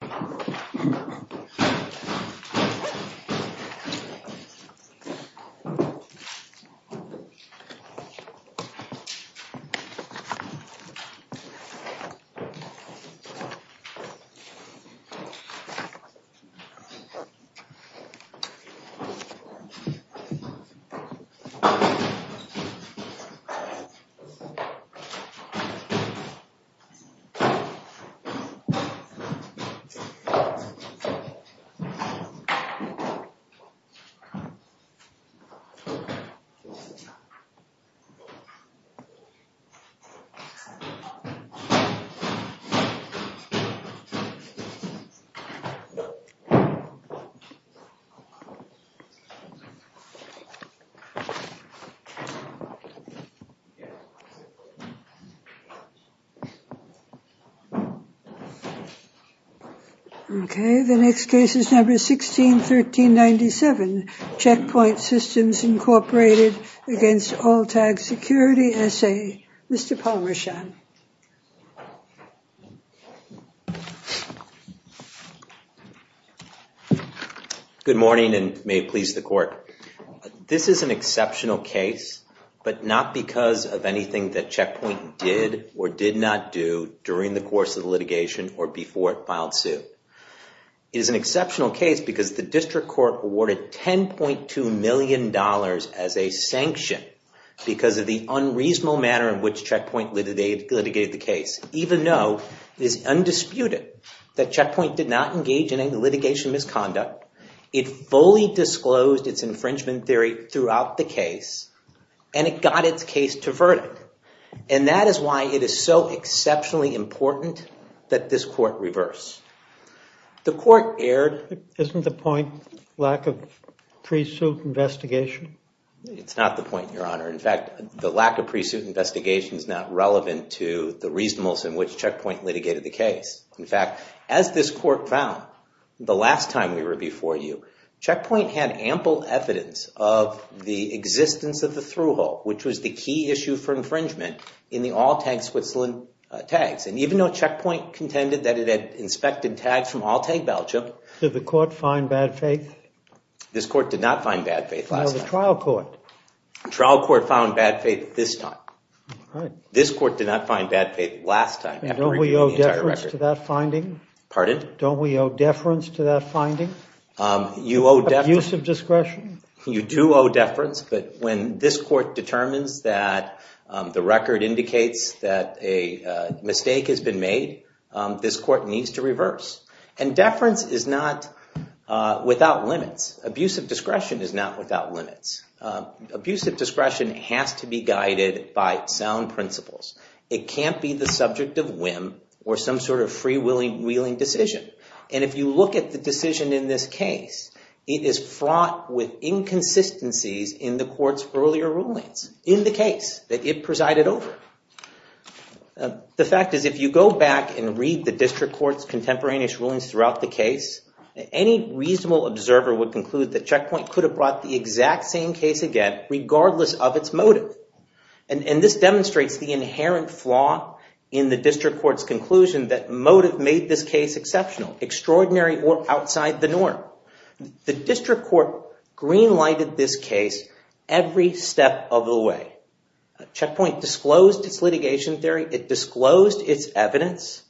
v. All-Tag Security S.A. v. All-Tag Security S.A. Okay, the next case is number 161397, Checkpoint Systems, Inc. v. All-Tag Security S.A. Mr. Palmershan. Good morning, and may it please the court. This is an exceptional case, but not because of anything that Checkpoint did or did not do during the course of the litigation or before it filed suit. It is an exceptional case because the district court awarded $10.2 million as a sanction because of the unreasonable manner in which Checkpoint litigated the case, even though it is undisputed that Checkpoint did not engage in any litigation misconduct. It fully disclosed its infringement theory throughout the case, and it got its case to verdict. And that is why it is so exceptionally important that this court reverse. The court erred. Isn't the point lack of pre-suit investigation? It's not the point, Your Honor. In fact, the lack of pre-suit investigation is not relevant to the reasonableness in which Checkpoint litigated the case. In fact, as this court found the last time we were before you, Checkpoint had ample evidence of the existence of the through-hole, which was the key issue for infringement in the All-Tag Switzerland tags. And even though Checkpoint contended that it had inspected tags from All-Tag Belgium... Did the court find bad faith? This court did not find bad faith last time. No, the trial court. The trial court found bad faith this time. This court did not find bad faith last time. Don't we owe deference to that finding? Pardon? Don't we owe deference to that finding? Abusive discretion? You do owe deference, but when this court determines that the record indicates that a mistake has been made, this court needs to reverse. And deference is not without limits. Abusive discretion is not without limits. Abusive discretion has to be guided by sound principles. It can't be the subject of whim or some sort of free-wheeling decision. And if you look at the decision in this case, it is fraught with inconsistencies in the court's earlier rulings, in the case that it presided over. The fact is, if you go back and read the district court's contemporaneous rulings throughout the case, any reasonable observer would conclude that Checkpoint could have brought the exact same case again regardless of its motive. And this demonstrates the inherent flaw in the district court's conclusion that motive made this case exceptional, extraordinary or outside the norm. The district court green-lighted this case every step of the way. Checkpoint disclosed its litigation theory. It disclosed its evidence.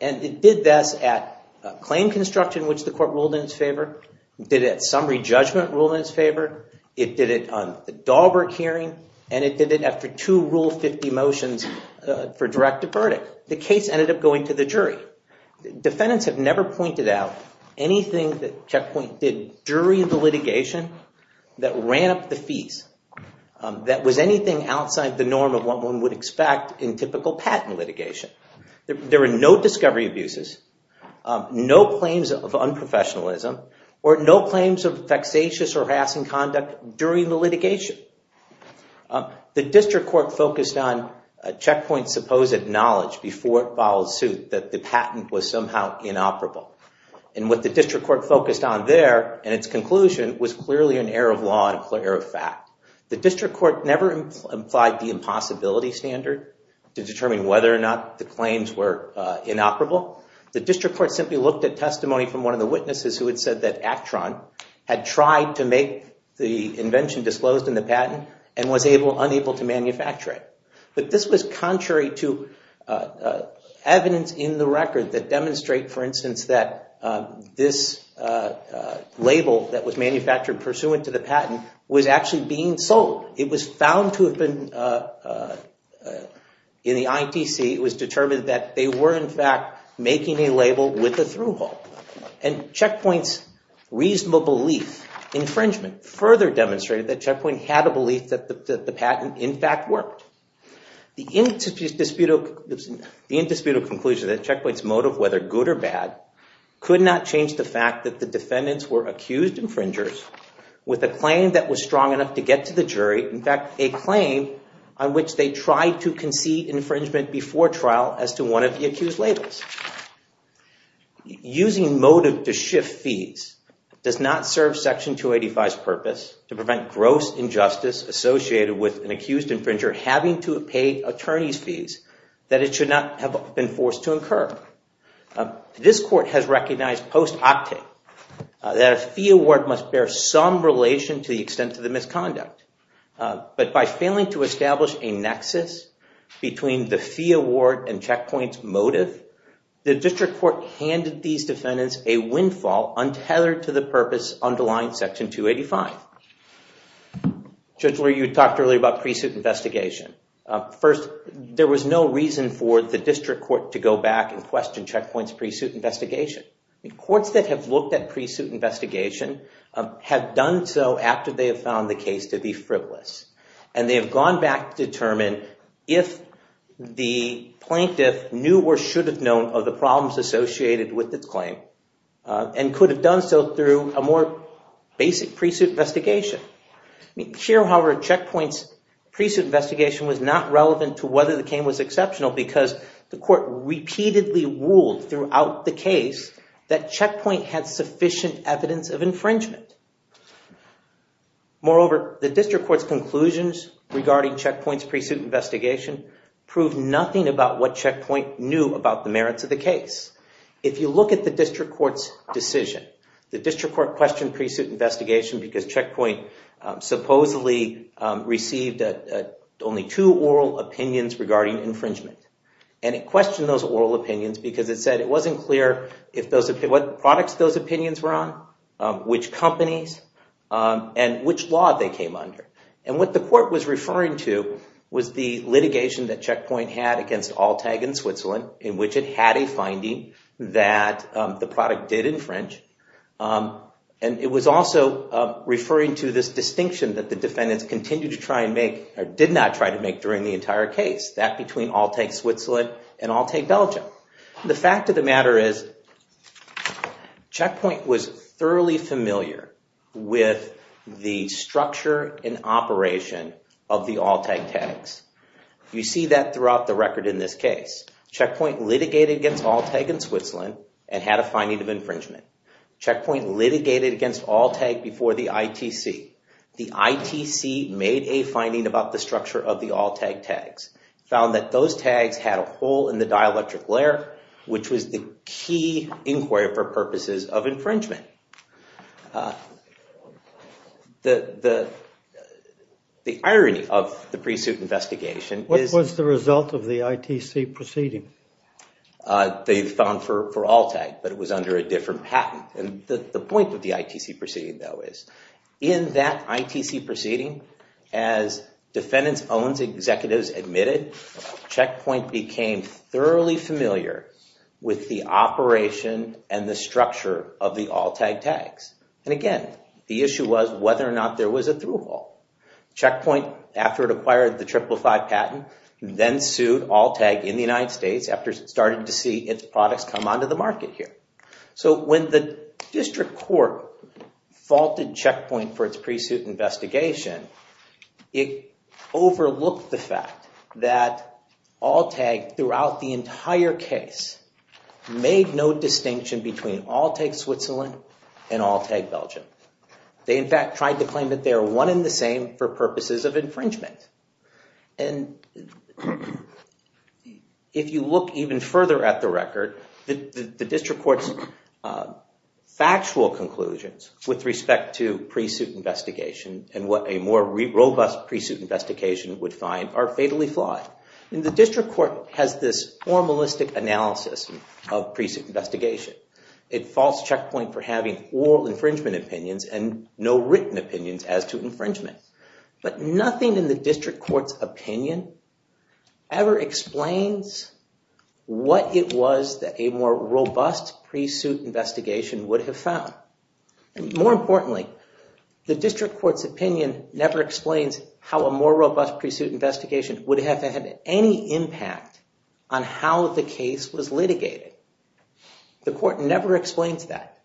And it did this at claim construction, which the court ruled in its favor. It did it at summary judgment, ruled in its favor. It did it on the Dahlberg hearing. And it did it after two Rule 50 motions for direct to verdict. The case ended up going to the jury. Defendants have never pointed out anything that Checkpoint did during the litigation that ran up the fees, that was anything outside the norm of what one would expect in typical patent litigation. There were no discovery abuses, no claims of unprofessionalism, or no claims of vexatious or harassing conduct during the litigation. The district court focused on Checkpoint's supposed knowledge before it followed suit that the patent was somehow inoperable. And what the district court focused on there, in its conclusion, was clearly an error of law and an error of fact. The district court never implied the impossibility standard to determine whether or not the claims were inoperable. The district court simply looked at testimony from one of the witnesses who had said that Actron had tried to make the invention disclosed in the patent and was unable to manufacture it. But this was contrary to evidence in the record that demonstrate, for instance, that this label that was manufactured pursuant to the patent was actually being sold. It was found to have been in the ITC. It was determined that they were, in fact, making a label with a through-hole. And Checkpoint's reasonable belief infringement further demonstrated that Checkpoint had a belief that the patent, in fact, worked. The indisputable conclusion that Checkpoint's motive, whether good or bad, could not change the fact that the defendants were accused infringers with a claim that was strong enough to get to the jury. In fact, a claim on which they tried to concede infringement before trial as to one of the accused labels. to prevent gross injustice associated with an accused infringer having to pay attorney's fees that it should not have been forced to incur. This court has recognized post-octet that a fee award must bear some relation to the extent of the misconduct. But by failing to establish a nexus between the fee award and Checkpoint's motive, the district court handed these defendants a windfall untethered to the purpose underlined in Section 285. Judge Lurie, you talked earlier about pre-suit investigation. First, there was no reason for the district court to go back and question Checkpoint's pre-suit investigation. Courts that have looked at pre-suit investigation have done so after they have found the case to be frivolous. And they have gone back to determine if the plaintiff knew or should have known of the problems associated with its claim and could have done so through a more basic pre-suit investigation. Here, however, Checkpoint's pre-suit investigation was not relevant to whether the claim was exceptional because the court repeatedly ruled throughout the case that Checkpoint had sufficient evidence of infringement. Moreover, the district court's conclusions regarding Checkpoint's pre-suit investigation proved nothing about what Checkpoint knew about the merits of the case. If you look at the district court's decision, the district court questioned pre-suit investigation because Checkpoint supposedly received only two oral opinions regarding infringement. And it questioned those oral opinions because it said it wasn't clear what products those opinions were on, which companies, and which law they came under. And what the court was referring to was the litigation that Checkpoint had against Alltag in Switzerland in which it had a finding that the product did infringe. And it was also referring to this distinction that the defendants continued to try and make or did not try to make during the entire case, that between Alltag Switzerland and Alltag Belgium. The fact of the matter is Checkpoint was thoroughly familiar with the structure and operation of the Alltag tags. You see that throughout the record in this case. Checkpoint litigated against Alltag in Switzerland and had a finding of infringement. Checkpoint litigated against Alltag before the ITC. The ITC made a finding about the structure of the Alltag tags, found that those tags had a hole in the dielectric layer, which was the key inquiry for purposes of infringement. The irony of the pre-suit investigation is... What was the result of the ITC proceeding? They found for Alltag, but it was under a different patent. And the point of the ITC proceeding, though, is in that ITC proceeding, as defendants, owns, executives admitted, Checkpoint became thoroughly familiar with the operation and the structure of the Alltag tags. And again, the issue was whether or not there was a through-hole. Checkpoint, after it acquired the 555 patent, then sued Alltag in the United States after it started to see its products come onto the market here. So when the district court faulted Checkpoint for its pre-suit investigation, it overlooked the fact that Alltag, throughout the entire case, made no distinction between Alltag Switzerland and Alltag Belgium. They, in fact, tried to claim that they are one and the same for purposes of infringement. And if you look even further at the record, the district court's factual conclusions with respect to pre-suit investigation and what a more robust pre-suit investigation would find are fatally flawed. And the district court has this formalistic analysis of pre-suit investigation, a false checkpoint for having oral infringement opinions and no written opinions as to infringement. But nothing in the district court's opinion ever explains what it was that a more robust pre-suit investigation would have found. More importantly, the district court's opinion never explains how a more robust pre-suit investigation would have had any impact on how the case was litigated. The court never explains that.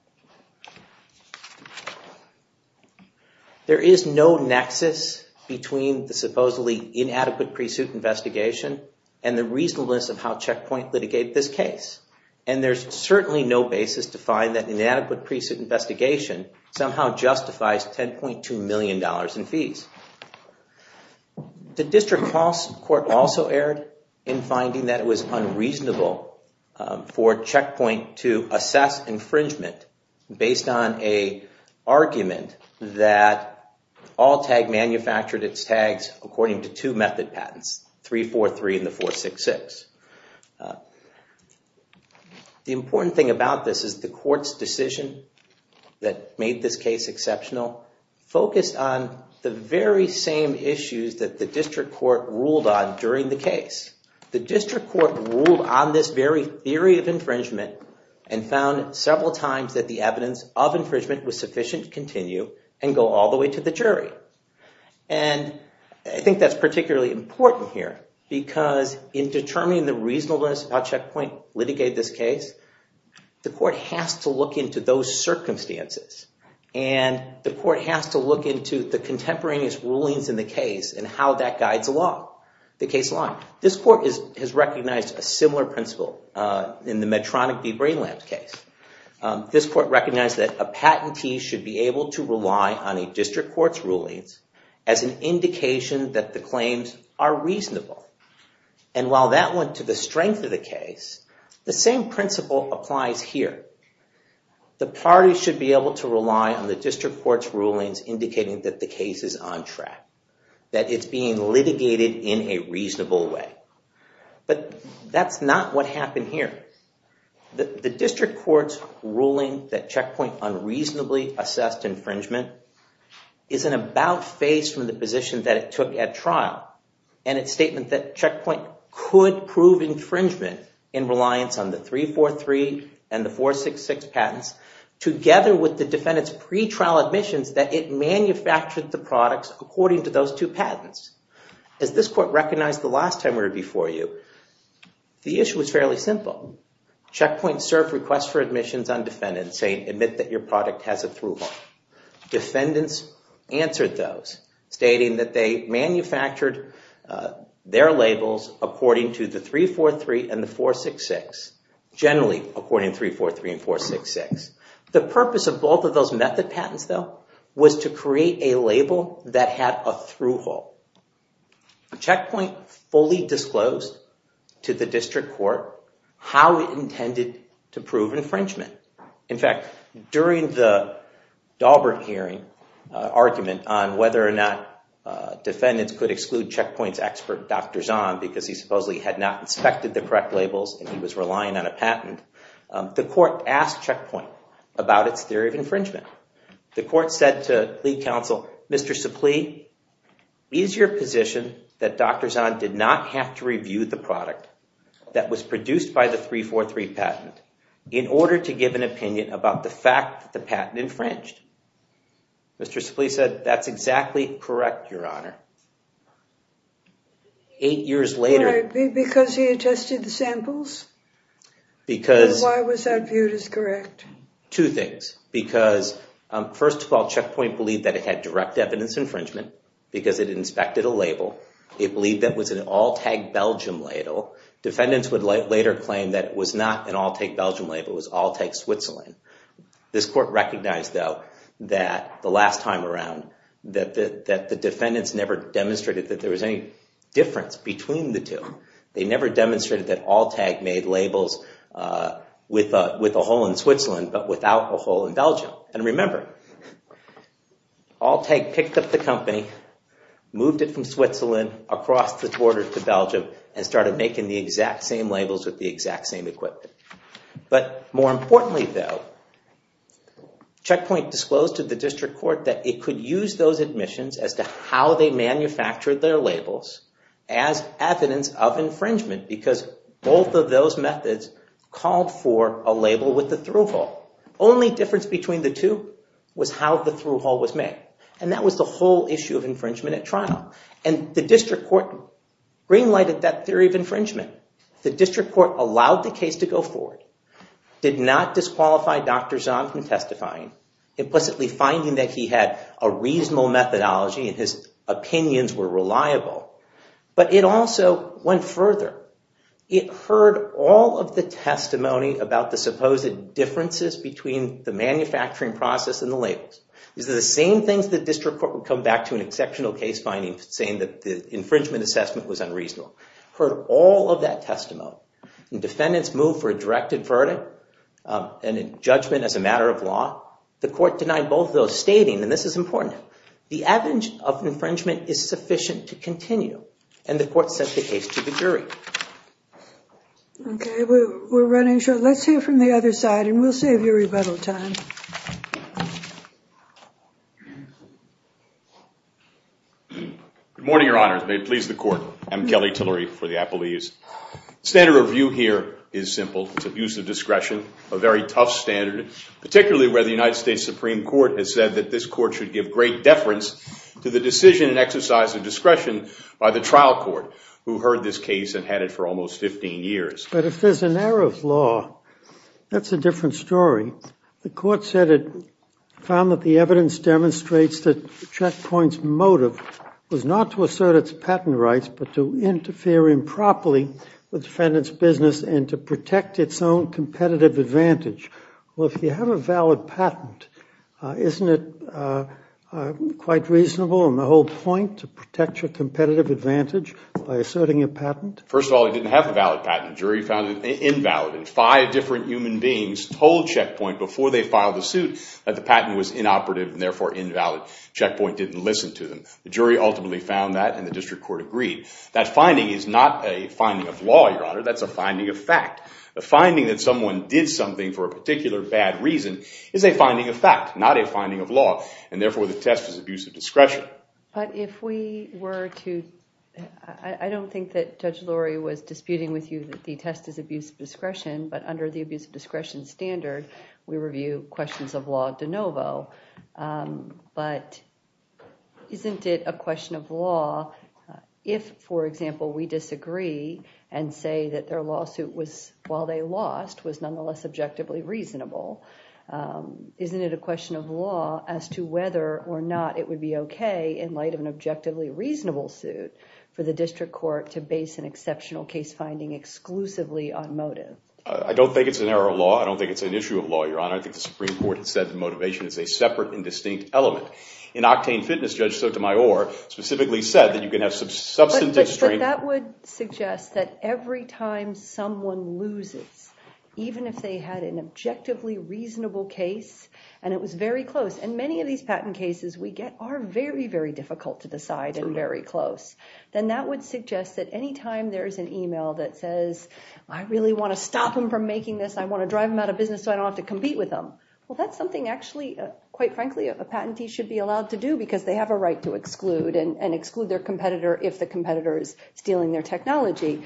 There is no nexus between the supposedly inadequate pre-suit investigation and the reasonableness of how Checkpoint litigated this case. And there's certainly no basis to find that inadequate pre-suit investigation somehow justifies $10.2 million in fees. The district court also erred in finding that it was unreasonable for Checkpoint to assess infringement based on an argument that Alltag manufactured its tags according to two method patents, 343 and the 466. The important thing about this is the court's decision that made this case exceptional focused on the very same issues that the district court ruled on during the case. The district court ruled on this very theory of infringement and found several times that the evidence of infringement was sufficient to continue and go all the way to the jury. And I think that's particularly important here because in determining the reasonableness of how Checkpoint litigated this case, the court has to look into those circumstances. And the court has to look into the contemporaneous rulings in the case and how that guides the case along. This court has recognized a similar principle in the Medtronic v. Brain Labs case. This court recognized that a patentee should be able to rely on a district court's rulings as an indication that the claims are reasonable. And while that went to the strength of the case, the same principle applies here. The parties should be able to rely on the district court's rulings indicating that the case is on track, that it's being litigated in a reasonable way. But that's not what happened here. The district court's ruling that Checkpoint unreasonably assessed infringement is an about-face from the position that it took at trial and its statement that Checkpoint could prove infringement in reliance on the 343 and the 466 patents together with the defendant's pretrial admissions that it manufactured the products according to those two patents. As this court recognized the last time we were before you, the issue is fairly simple. Checkpoint served requests for admissions on defendants saying admit that your product has a through-haul. Defendants answered those, stating that they manufactured their labels according to the 343 and the 466, generally according to 343 and 466. The purpose of both of those method patents, though, was to create a label that had a through-haul. Checkpoint fully disclosed to the district court how it intended to prove infringement. In fact, during the Daubert hearing argument on whether or not defendants could exclude Checkpoint's expert, Dr. Zahn, because he supposedly had not inspected the correct labels and he was relying on a patent, the court asked Checkpoint about its theory of infringement. The court said to the counsel, Mr. Supplee, is your position that Dr. Zahn did not have to review the product that was produced by the 343 patent in order to give an opinion about the fact that the patent infringed? Mr. Supplee said, that's exactly correct, Your Honor. Eight years later... Because he had tested the samples? Because... And why was that viewed as correct? Two things. Because, first of all, Checkpoint believed that it had direct evidence infringement because it inspected a label. It believed that it was an all-tag Belgium label. Defendants would later claim that it was not an all-tag Belgium label, it was all-tag Switzerland. This court recognized, though, that the last time around, that the defendants never demonstrated that there was any difference between the two. They never demonstrated that all-tag made labels with a hole in Switzerland but without a hole in Belgium. And remember, all-tag picked up the company, moved it from Switzerland across the border to Belgium, and started making the exact same labels with the exact same equipment. But more importantly, though, Checkpoint disclosed to the district court that it could use those admissions as to how they manufactured their labels as evidence of infringement because both of those methods called for a label with a through-hole. Only difference between the two was how the through-hole was made. And that was the whole issue of infringement at trial. And the district court green-lighted that theory of infringement. The district court allowed the case to go forward, did not disqualify Dr. Zahn from testifying, implicitly finding that he had a reasonable methodology and his opinions were reliable. But it also went further. It heard all of the testimony about the supposed differences between the manufacturing process and the labels. These are the same things the district court would come back to an exceptional case finding saying that the infringement assessment was unreasonable. Heard all of that testimony. And defendants moved for a directed verdict and a judgment as a matter of law. The court denied both of those, stating, and this is important, the evidence of infringement is sufficient to continue. And the court sent the case to the jury. Okay, we're running short. Let's hear from the other side, and we'll save you rebuttal time. Good morning, Your Honors. May it please the Court. I'm Kelly Tillery for the apologies. Standard review here is simple. It's abuse of discretion, a very tough standard, particularly where the United States Supreme Court has said that this court should give great deference to the decision and exercise of discretion by the trial court, who heard this case and had it for almost 15 years. But if there's an error of law, that's a different story. The court said it found that the evidence demonstrates that Check Point's motive was not to assert its patent rights but to interfere improperly with defendants' business and to protect its own competitive advantage. Well, if you have a valid patent, isn't it quite reasonable on the whole point to protect your competitive advantage by asserting a patent? First of all, it didn't have a valid patent. The jury found it invalid, and five different human beings told Check Point before they filed the suit that the patent was inoperative and therefore invalid. Check Point didn't listen to them. That finding is not a finding of law, Your Honor. That's a finding of fact. The finding that someone did something for a particular bad reason is a finding of fact, not a finding of law, and therefore the test is abuse of discretion. But if we were to... I don't think that Judge Lurie was disputing with you that the test is abuse of discretion, but under the abuse of discretion standard, we review questions of law de novo. But isn't it a question of law if, for example, we disagree and say that their lawsuit, while they lost, was nonetheless objectively reasonable? Isn't it a question of law as to whether or not it would be okay, in light of an objectively reasonable suit, for the district court to base an exceptional case finding exclusively on motive? I don't think it's an error of law. I don't think it's an issue of law, Your Honor. I think the Supreme Court has said that motivation is a separate and distinct element. In Octane Fitness, Judge Sotomayor specifically said that you can have substantive strength... That would suggest that every time someone loses, even if they had an objectively reasonable case, and it was very close, and many of these patent cases we get are very, very difficult to decide and very close, then that would suggest that any time there's an email that says, I really want to stop them from making this, I want to drive them out of business so I don't have to compete with them. Well, that's something actually, quite frankly, a patentee should be allowed to do because they have a right to exclude and exclude their competitor if the competitor is stealing their technology.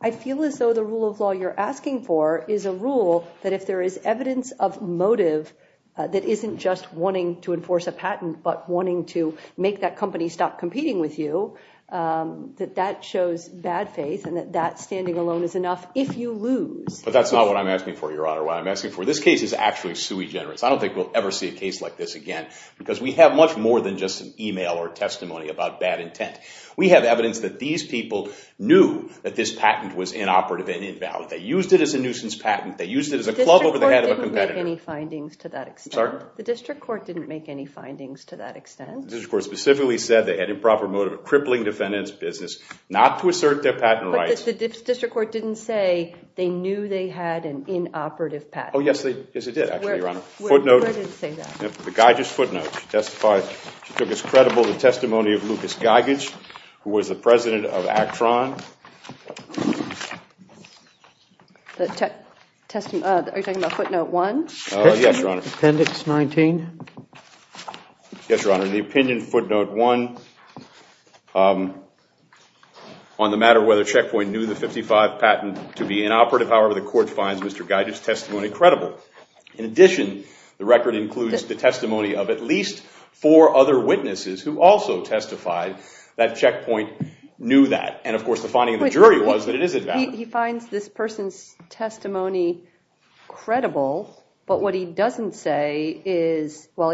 I feel as though the rule of law you're asking for is a rule that if there is evidence of motive that isn't just wanting to enforce a patent, but wanting to make that company stop competing with you, that that shows bad faith and that that standing alone is enough if you lose. But that's not what I'm asking for, Your Honor, what I'm asking for. This case is actually sui generis. I don't think we'll ever see a case like this again because we have much more than just an email or testimony about bad intent. We have evidence that these people knew that this patent was inoperative and invalid. They used it as a nuisance patent. They used it as a club over the head of a competitor. The district court didn't make any findings to that extent. Sorry? The district court didn't make any findings to that extent. The district court specifically said they had improper motive of crippling defendant's business not to assert their patent rights. But the district court didn't say they knew they had an inoperative patent. Oh, yes, it did, actually, Your Honor. Where does it say that? The Geiges footnote. She took as credible the testimony of Lucas Geiges, who was the president of Actron. Are you talking about footnote one? Yes, Your Honor. Appendix 19. Yes, Your Honor. In the opinion footnote one, on the matter of whether Checkpoint knew the 55 patent to be inoperative, however, the court finds Mr. Geiges' testimony credible. In addition, the record includes the testimony of at least four other witnesses who also testified that Checkpoint knew that. And, of course, the finding of the jury was that it is inoperative. He finds this person's testimony credible, but what he doesn't say is, well,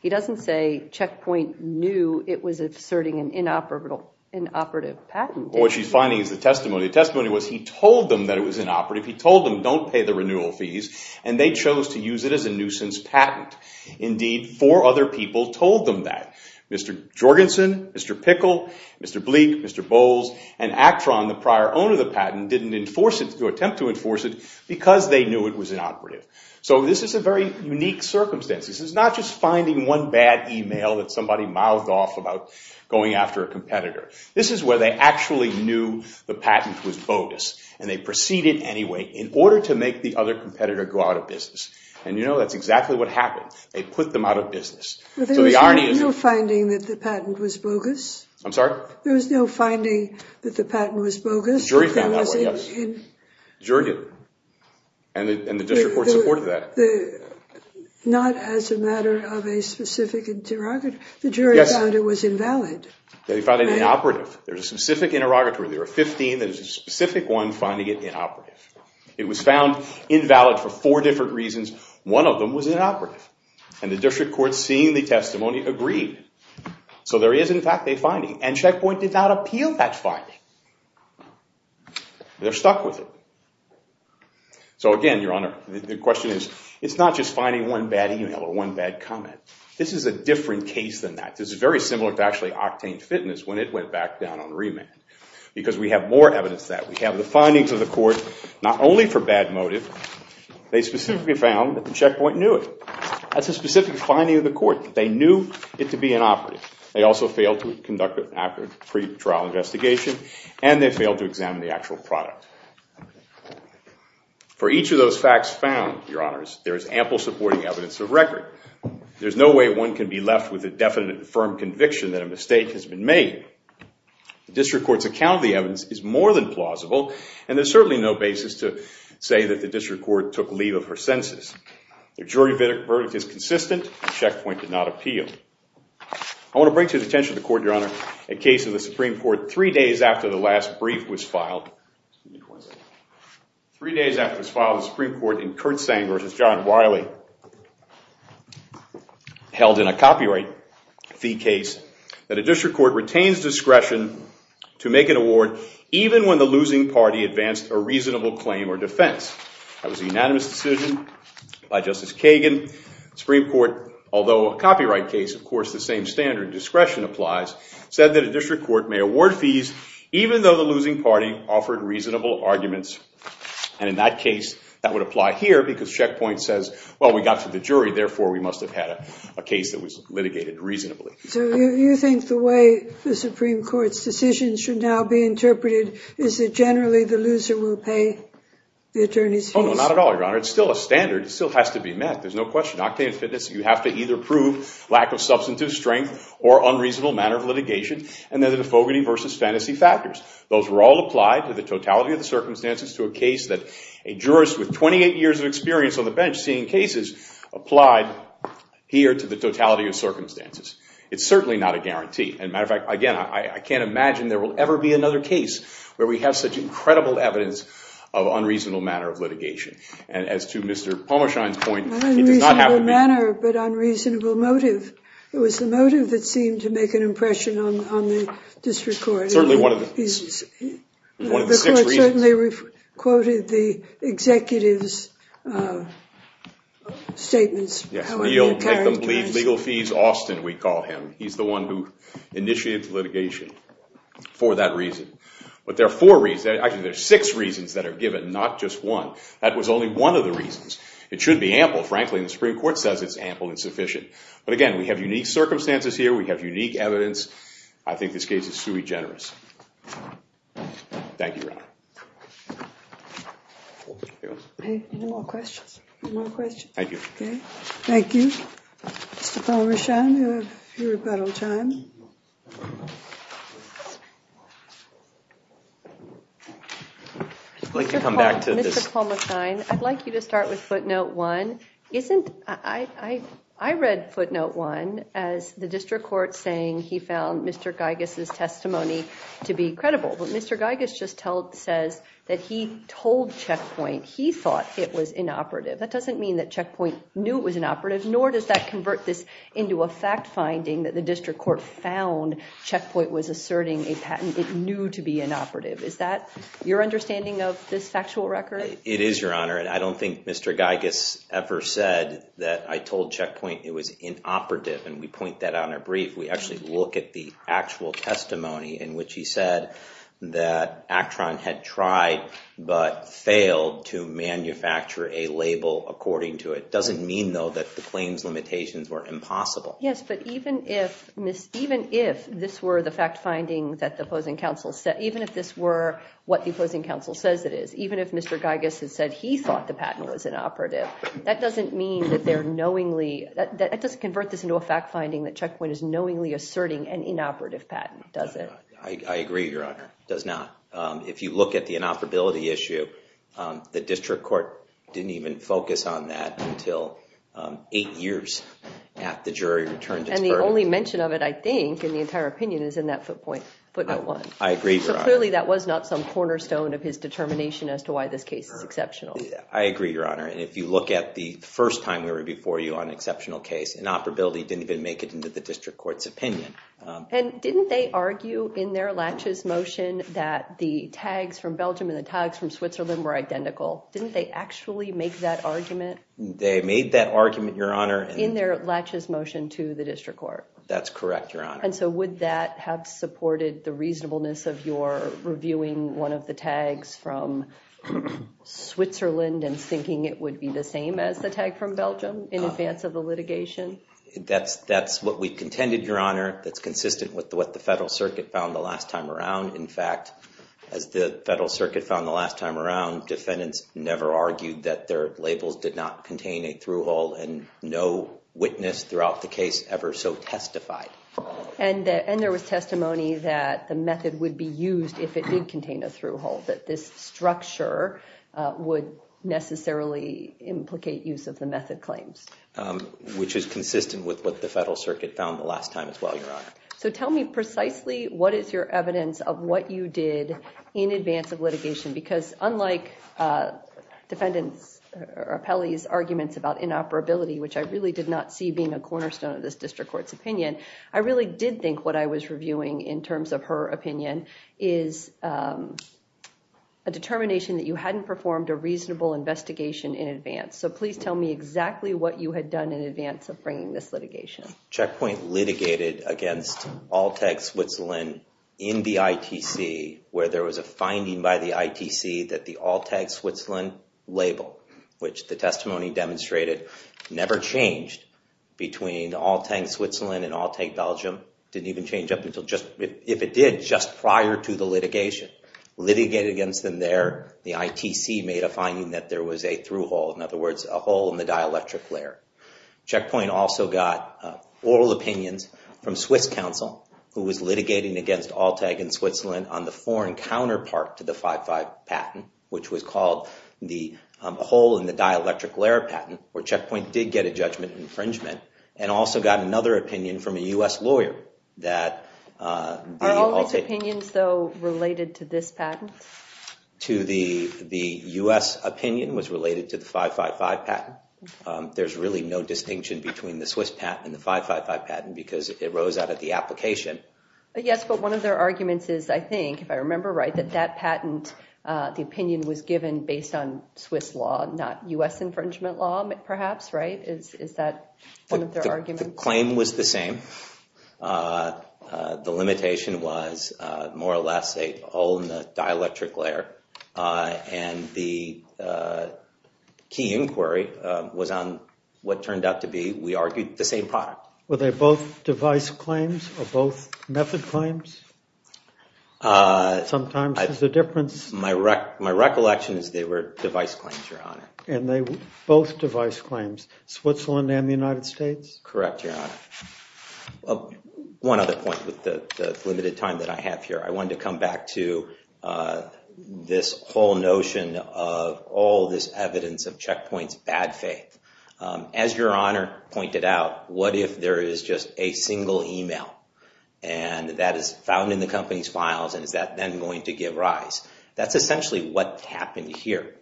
he doesn't say Checkpoint knew it was asserting an inoperative patent. What she's finding is the testimony. The testimony was he told them that it was inoperative. He told them, don't pay the renewal fees. And they chose to use it as a nuisance patent. Indeed, four other people told them that. Mr. Jorgensen, Mr. Pickle, Mr. Bleak, Mr. Bowles, and Actron, the prior owner of the patent, didn't attempt to enforce it because they knew it was inoperative. So this is a very unique circumstance. This is not just finding one bad email that somebody mouthed off about going after a competitor. This is where they actually knew the patent was bodice, and they proceeded anyway in order to make the other competitor go out of business. And you know, that's exactly what happened. They put them out of business. So the irony is... There was no finding that the patent was bogus? I'm sorry? There was no finding that the patent was bogus? The jury found that way, yes. The jury did. And the district court supported that. Not as a matter of a specific interrogator. The jury found it was invalid. They found it inoperative. There's a specific interrogator. There are 15. There's a specific one finding it inoperative. It was found invalid for four different reasons. One of them was inoperative. And the district court, seeing the testimony, agreed. So there is, in fact, a finding. And Check Point did not appeal that finding. They're stuck with it. So again, Your Honor, the question is, it's not just finding one bad email or one bad comment. This is a different case than that. This is very similar to actually Octane Fitness when it went back down on remand. Because we have more evidence of that. We have the findings of the court, not only for bad motive. They specifically found that the Check Point knew it. That's a specific finding of the court. They knew it to be inoperative. They also failed to conduct an accurate pretrial investigation. And they failed to examine the actual product. For each of those facts found, Your Honors, there is ample supporting evidence of record. There's no way one can be left with a definite, firm conviction that a mistake has been made. The district court's account of the evidence is more than plausible. And there's certainly no basis to say that the district court took leave of her senses. The jury verdict is consistent. The Check Point did not appeal. I want to bring to the attention of the court, Your Honor, a case of the Supreme Court three days after the last brief was filed. Three days after it was filed in the Supreme Court in Kurt Sanger versus John Wiley, held in a copyright fee case, that a district court retains discretion to make an award even when the losing party advanced a reasonable claim or defense. That was a unanimous decision by Justice Kagan. The Supreme Court, although a copyright case, of course, the same standard discretion applies, said that a district court may award fees even though the losing party offered reasonable arguments. And in that case, that would apply here, because Check Point says, well, we got to the jury. Therefore, we must have had a case that was litigated reasonably. So you think the way the Supreme Court's decisions should now be interpreted is that generally the loser will pay the attorney's fees? Oh, no, not at all, Your Honor. It's still a standard. It still has to be met. There's no question. Octane Fitness, you have to either prove lack of substantive strength or unreasonable manner of litigation. And then the Fogarty versus Fantasy factors. Those were all applied to the totality of the circumstances to a case that a jurist with 28 years of experience on the bench seeing cases applied here to the totality of circumstances. It's certainly not a guarantee. As a matter of fact, again, I can't imagine there will ever be another case where we have such incredible evidence of unreasonable manner of litigation. And as to Mr. Palmerschein's point, it does not have to be. Not unreasonable manner, but unreasonable motive. It was the motive that seemed to make an impression on the district court. It's certainly one of the six reasons. The court certainly quoted the executive's statements. Yes. We'll make them believe legal fees Austin, we call him. He's the one who initiated the litigation for that reason. But there are four reasons. Actually, there are six reasons that are given, not just one. That was only one of the reasons. It should be ample. Frankly, the Supreme Court says it's ample and sufficient. But again, we have unique circumstances here. We have unique evidence. I think this case is sui generis. Thank you, Your Honor. Any more questions? Any more questions? Thank you. Thank you. Mr. Palmerschein, you have your rebuttal time. I'd like to come back to this. Mr. Palmerschein, I'd like you to start with footnote one. I read footnote one as the district court saying he found Mr. Giygas's testimony to be credible. But Mr. Giygas just says that he told Checkpoint he thought it was inoperative. That doesn't mean that Checkpoint knew it was inoperative, nor does that convert this into a fact finding that the district court found Checkpoint was asserting a patent it knew to be inoperative. Is that your understanding of this factual record? It is, Your Honor. I don't think Mr. Giygas ever said that I told Checkpoint it was inoperative. And we point that out in a brief. We actually look at the actual testimony in which he said that Actron had tried but failed to manufacture a label according to it. It doesn't mean, though, that the claims limitations were impossible. Yes, but even if this were the fact finding that the opposing counsel said, even if this were what the opposing counsel says it is, even if Mr. Giygas had said he thought the patent was inoperative, that doesn't mean that they're knowingly, that doesn't convert this into a fact finding that Checkpoint is knowingly asserting an inoperative patent, does it? I agree, Your Honor. It does not. If you look at the inoperability issue, the district court didn't even focus on that until eight years after the jury returned its verdict. And the only mention of it, I think, in the entire opinion, is in that footnote one. I agree, Your Honor. So clearly that was not some cornerstone of his determination as to why this case is exceptional. I agree, Your Honor. And if you look at the first time we were before you on an exceptional case, inoperability didn't even make it into the district court's opinion. And didn't they argue in their laches motion that the tags from Belgium and the tags from Switzerland were identical? Didn't they actually make that argument? They made that argument, Your Honor. In their laches motion to the district court? That's correct, Your Honor. And so would that have supported the reasonableness and thinking it would be the same as the tag from Belgium in advance of the litigation? That's what we contended, Your Honor. That's consistent with what the federal circuit found the last time around. In fact, as the federal circuit found the last time around, defendants never argued that their labels did not contain a through-hole. And no witness throughout the case ever so testified. And there was testimony that the method would be used if it did contain a through-hole, that this structure would necessarily implicate use of the method claims. Which is consistent with what the federal circuit found the last time as well, Your Honor. So tell me precisely what is your evidence of what you did in advance of litigation? Because unlike defendant Rappelli's arguments about inoperability, which I really did not see being a cornerstone of this district court's opinion, I really did think what I was reviewing in terms of her opinion is a determination that you hadn't performed a reasonable investigation in advance. So please tell me exactly what you had done in advance of bringing this litigation. Checkpoint litigated against Alltag Switzerland in the ITC where there was a finding by the ITC that the Alltag Switzerland label, which the testimony demonstrated, never changed between Alltag Switzerland and Alltag Belgium. Didn't even change up until just, if it did, just prior to the litigation. Litigated against them there, the ITC made a finding that there was a through-hole. In other words, a hole in the dielectric layer. Checkpoint also got oral opinions from Swiss counsel, who was litigating against Alltag in Switzerland on the foreign counterpart to the 5-5 patent, which was called the hole in the dielectric layer patent, where Checkpoint did get a judgment infringement. And also got another opinion from a US lawyer that the Alltag Do you have any opinions, though, related to this patent? To the US opinion was related to the 5-5-5 patent. There's really no distinction between the Swiss patent and the 5-5-5 patent because it rose out of the application. Yes, but one of their arguments is, I think, if I remember right, that that patent, the opinion was given based on Swiss law, not US infringement law, perhaps, right? Is that one of their arguments? The claim was the same. The limitation was, more or less, a hole in the dielectric layer. And the key inquiry was on what turned out to be, we argued, the same product. Were they both device claims or both method claims? Sometimes there's a difference. My recollection is they were device claims, Your Honor. And they were both device claims, Switzerland and the United States? Correct, Your Honor. One other point with the limited time that I have here. I wanted to come back to this whole notion of all this evidence of Checkpoint's bad faith. As Your Honor pointed out, what if there is just a single email, and that is found in the company's files, and is that then going to give rise? That's essentially what happened here.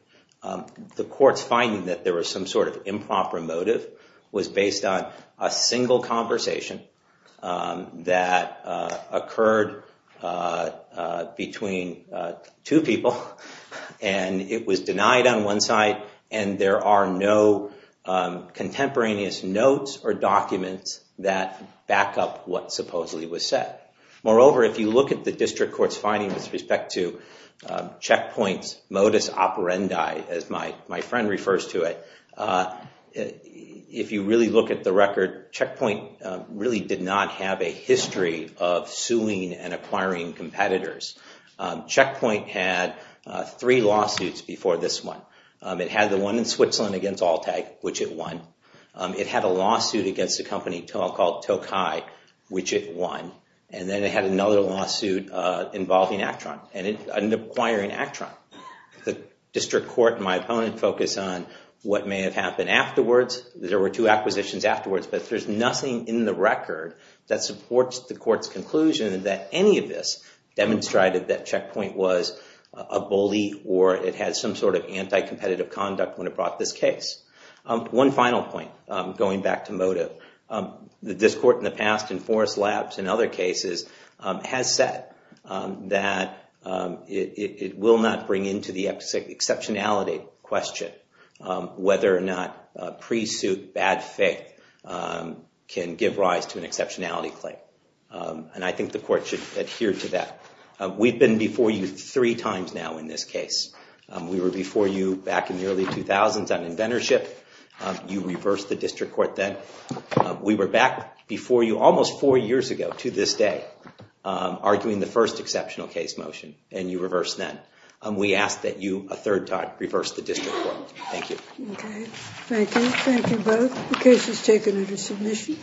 The court's finding that there was some sort of improper motive was based on a single conversation that occurred between two people. And it was denied on one side. And there are no contemporaneous notes or documents that back up what supposedly was said. Moreover, if you look at the district court's finding with respect to Checkpoint's modus operandi, as my friend refers to it, if you really look at the record, Checkpoint really did not have a history of suing and acquiring competitors. Checkpoint had three lawsuits before this one. It had the one in Switzerland against Alltag, which it won. It had a lawsuit against a company called Tokai, which it won. And then it had another lawsuit involving Actron, and it ended up acquiring Actron. The district court and my opponent focus on what may have happened afterwards. There were two acquisitions afterwards, but there's nothing in the record that supports the court's conclusion that any of this demonstrated that Checkpoint was a bully or it had some sort of anti-competitive conduct when it brought this case. One final point, going back to motive. This court in the past, in Forrest Labs and other cases, has said that it will not bring into the exceptionality question whether or not pre-suit bad faith can give rise to an exceptionality claim. And I think the court should adhere to that. We've been before you three times now in this case. We were before you back in the early 2000s on inventorship. You reversed the district court then. We were back before you almost four years ago to this day arguing the first exceptional case motion, and you reversed that. We ask that you a third time reverse the district court. Thank you. Okay, thank you. Thank you both. The case is taken under submission.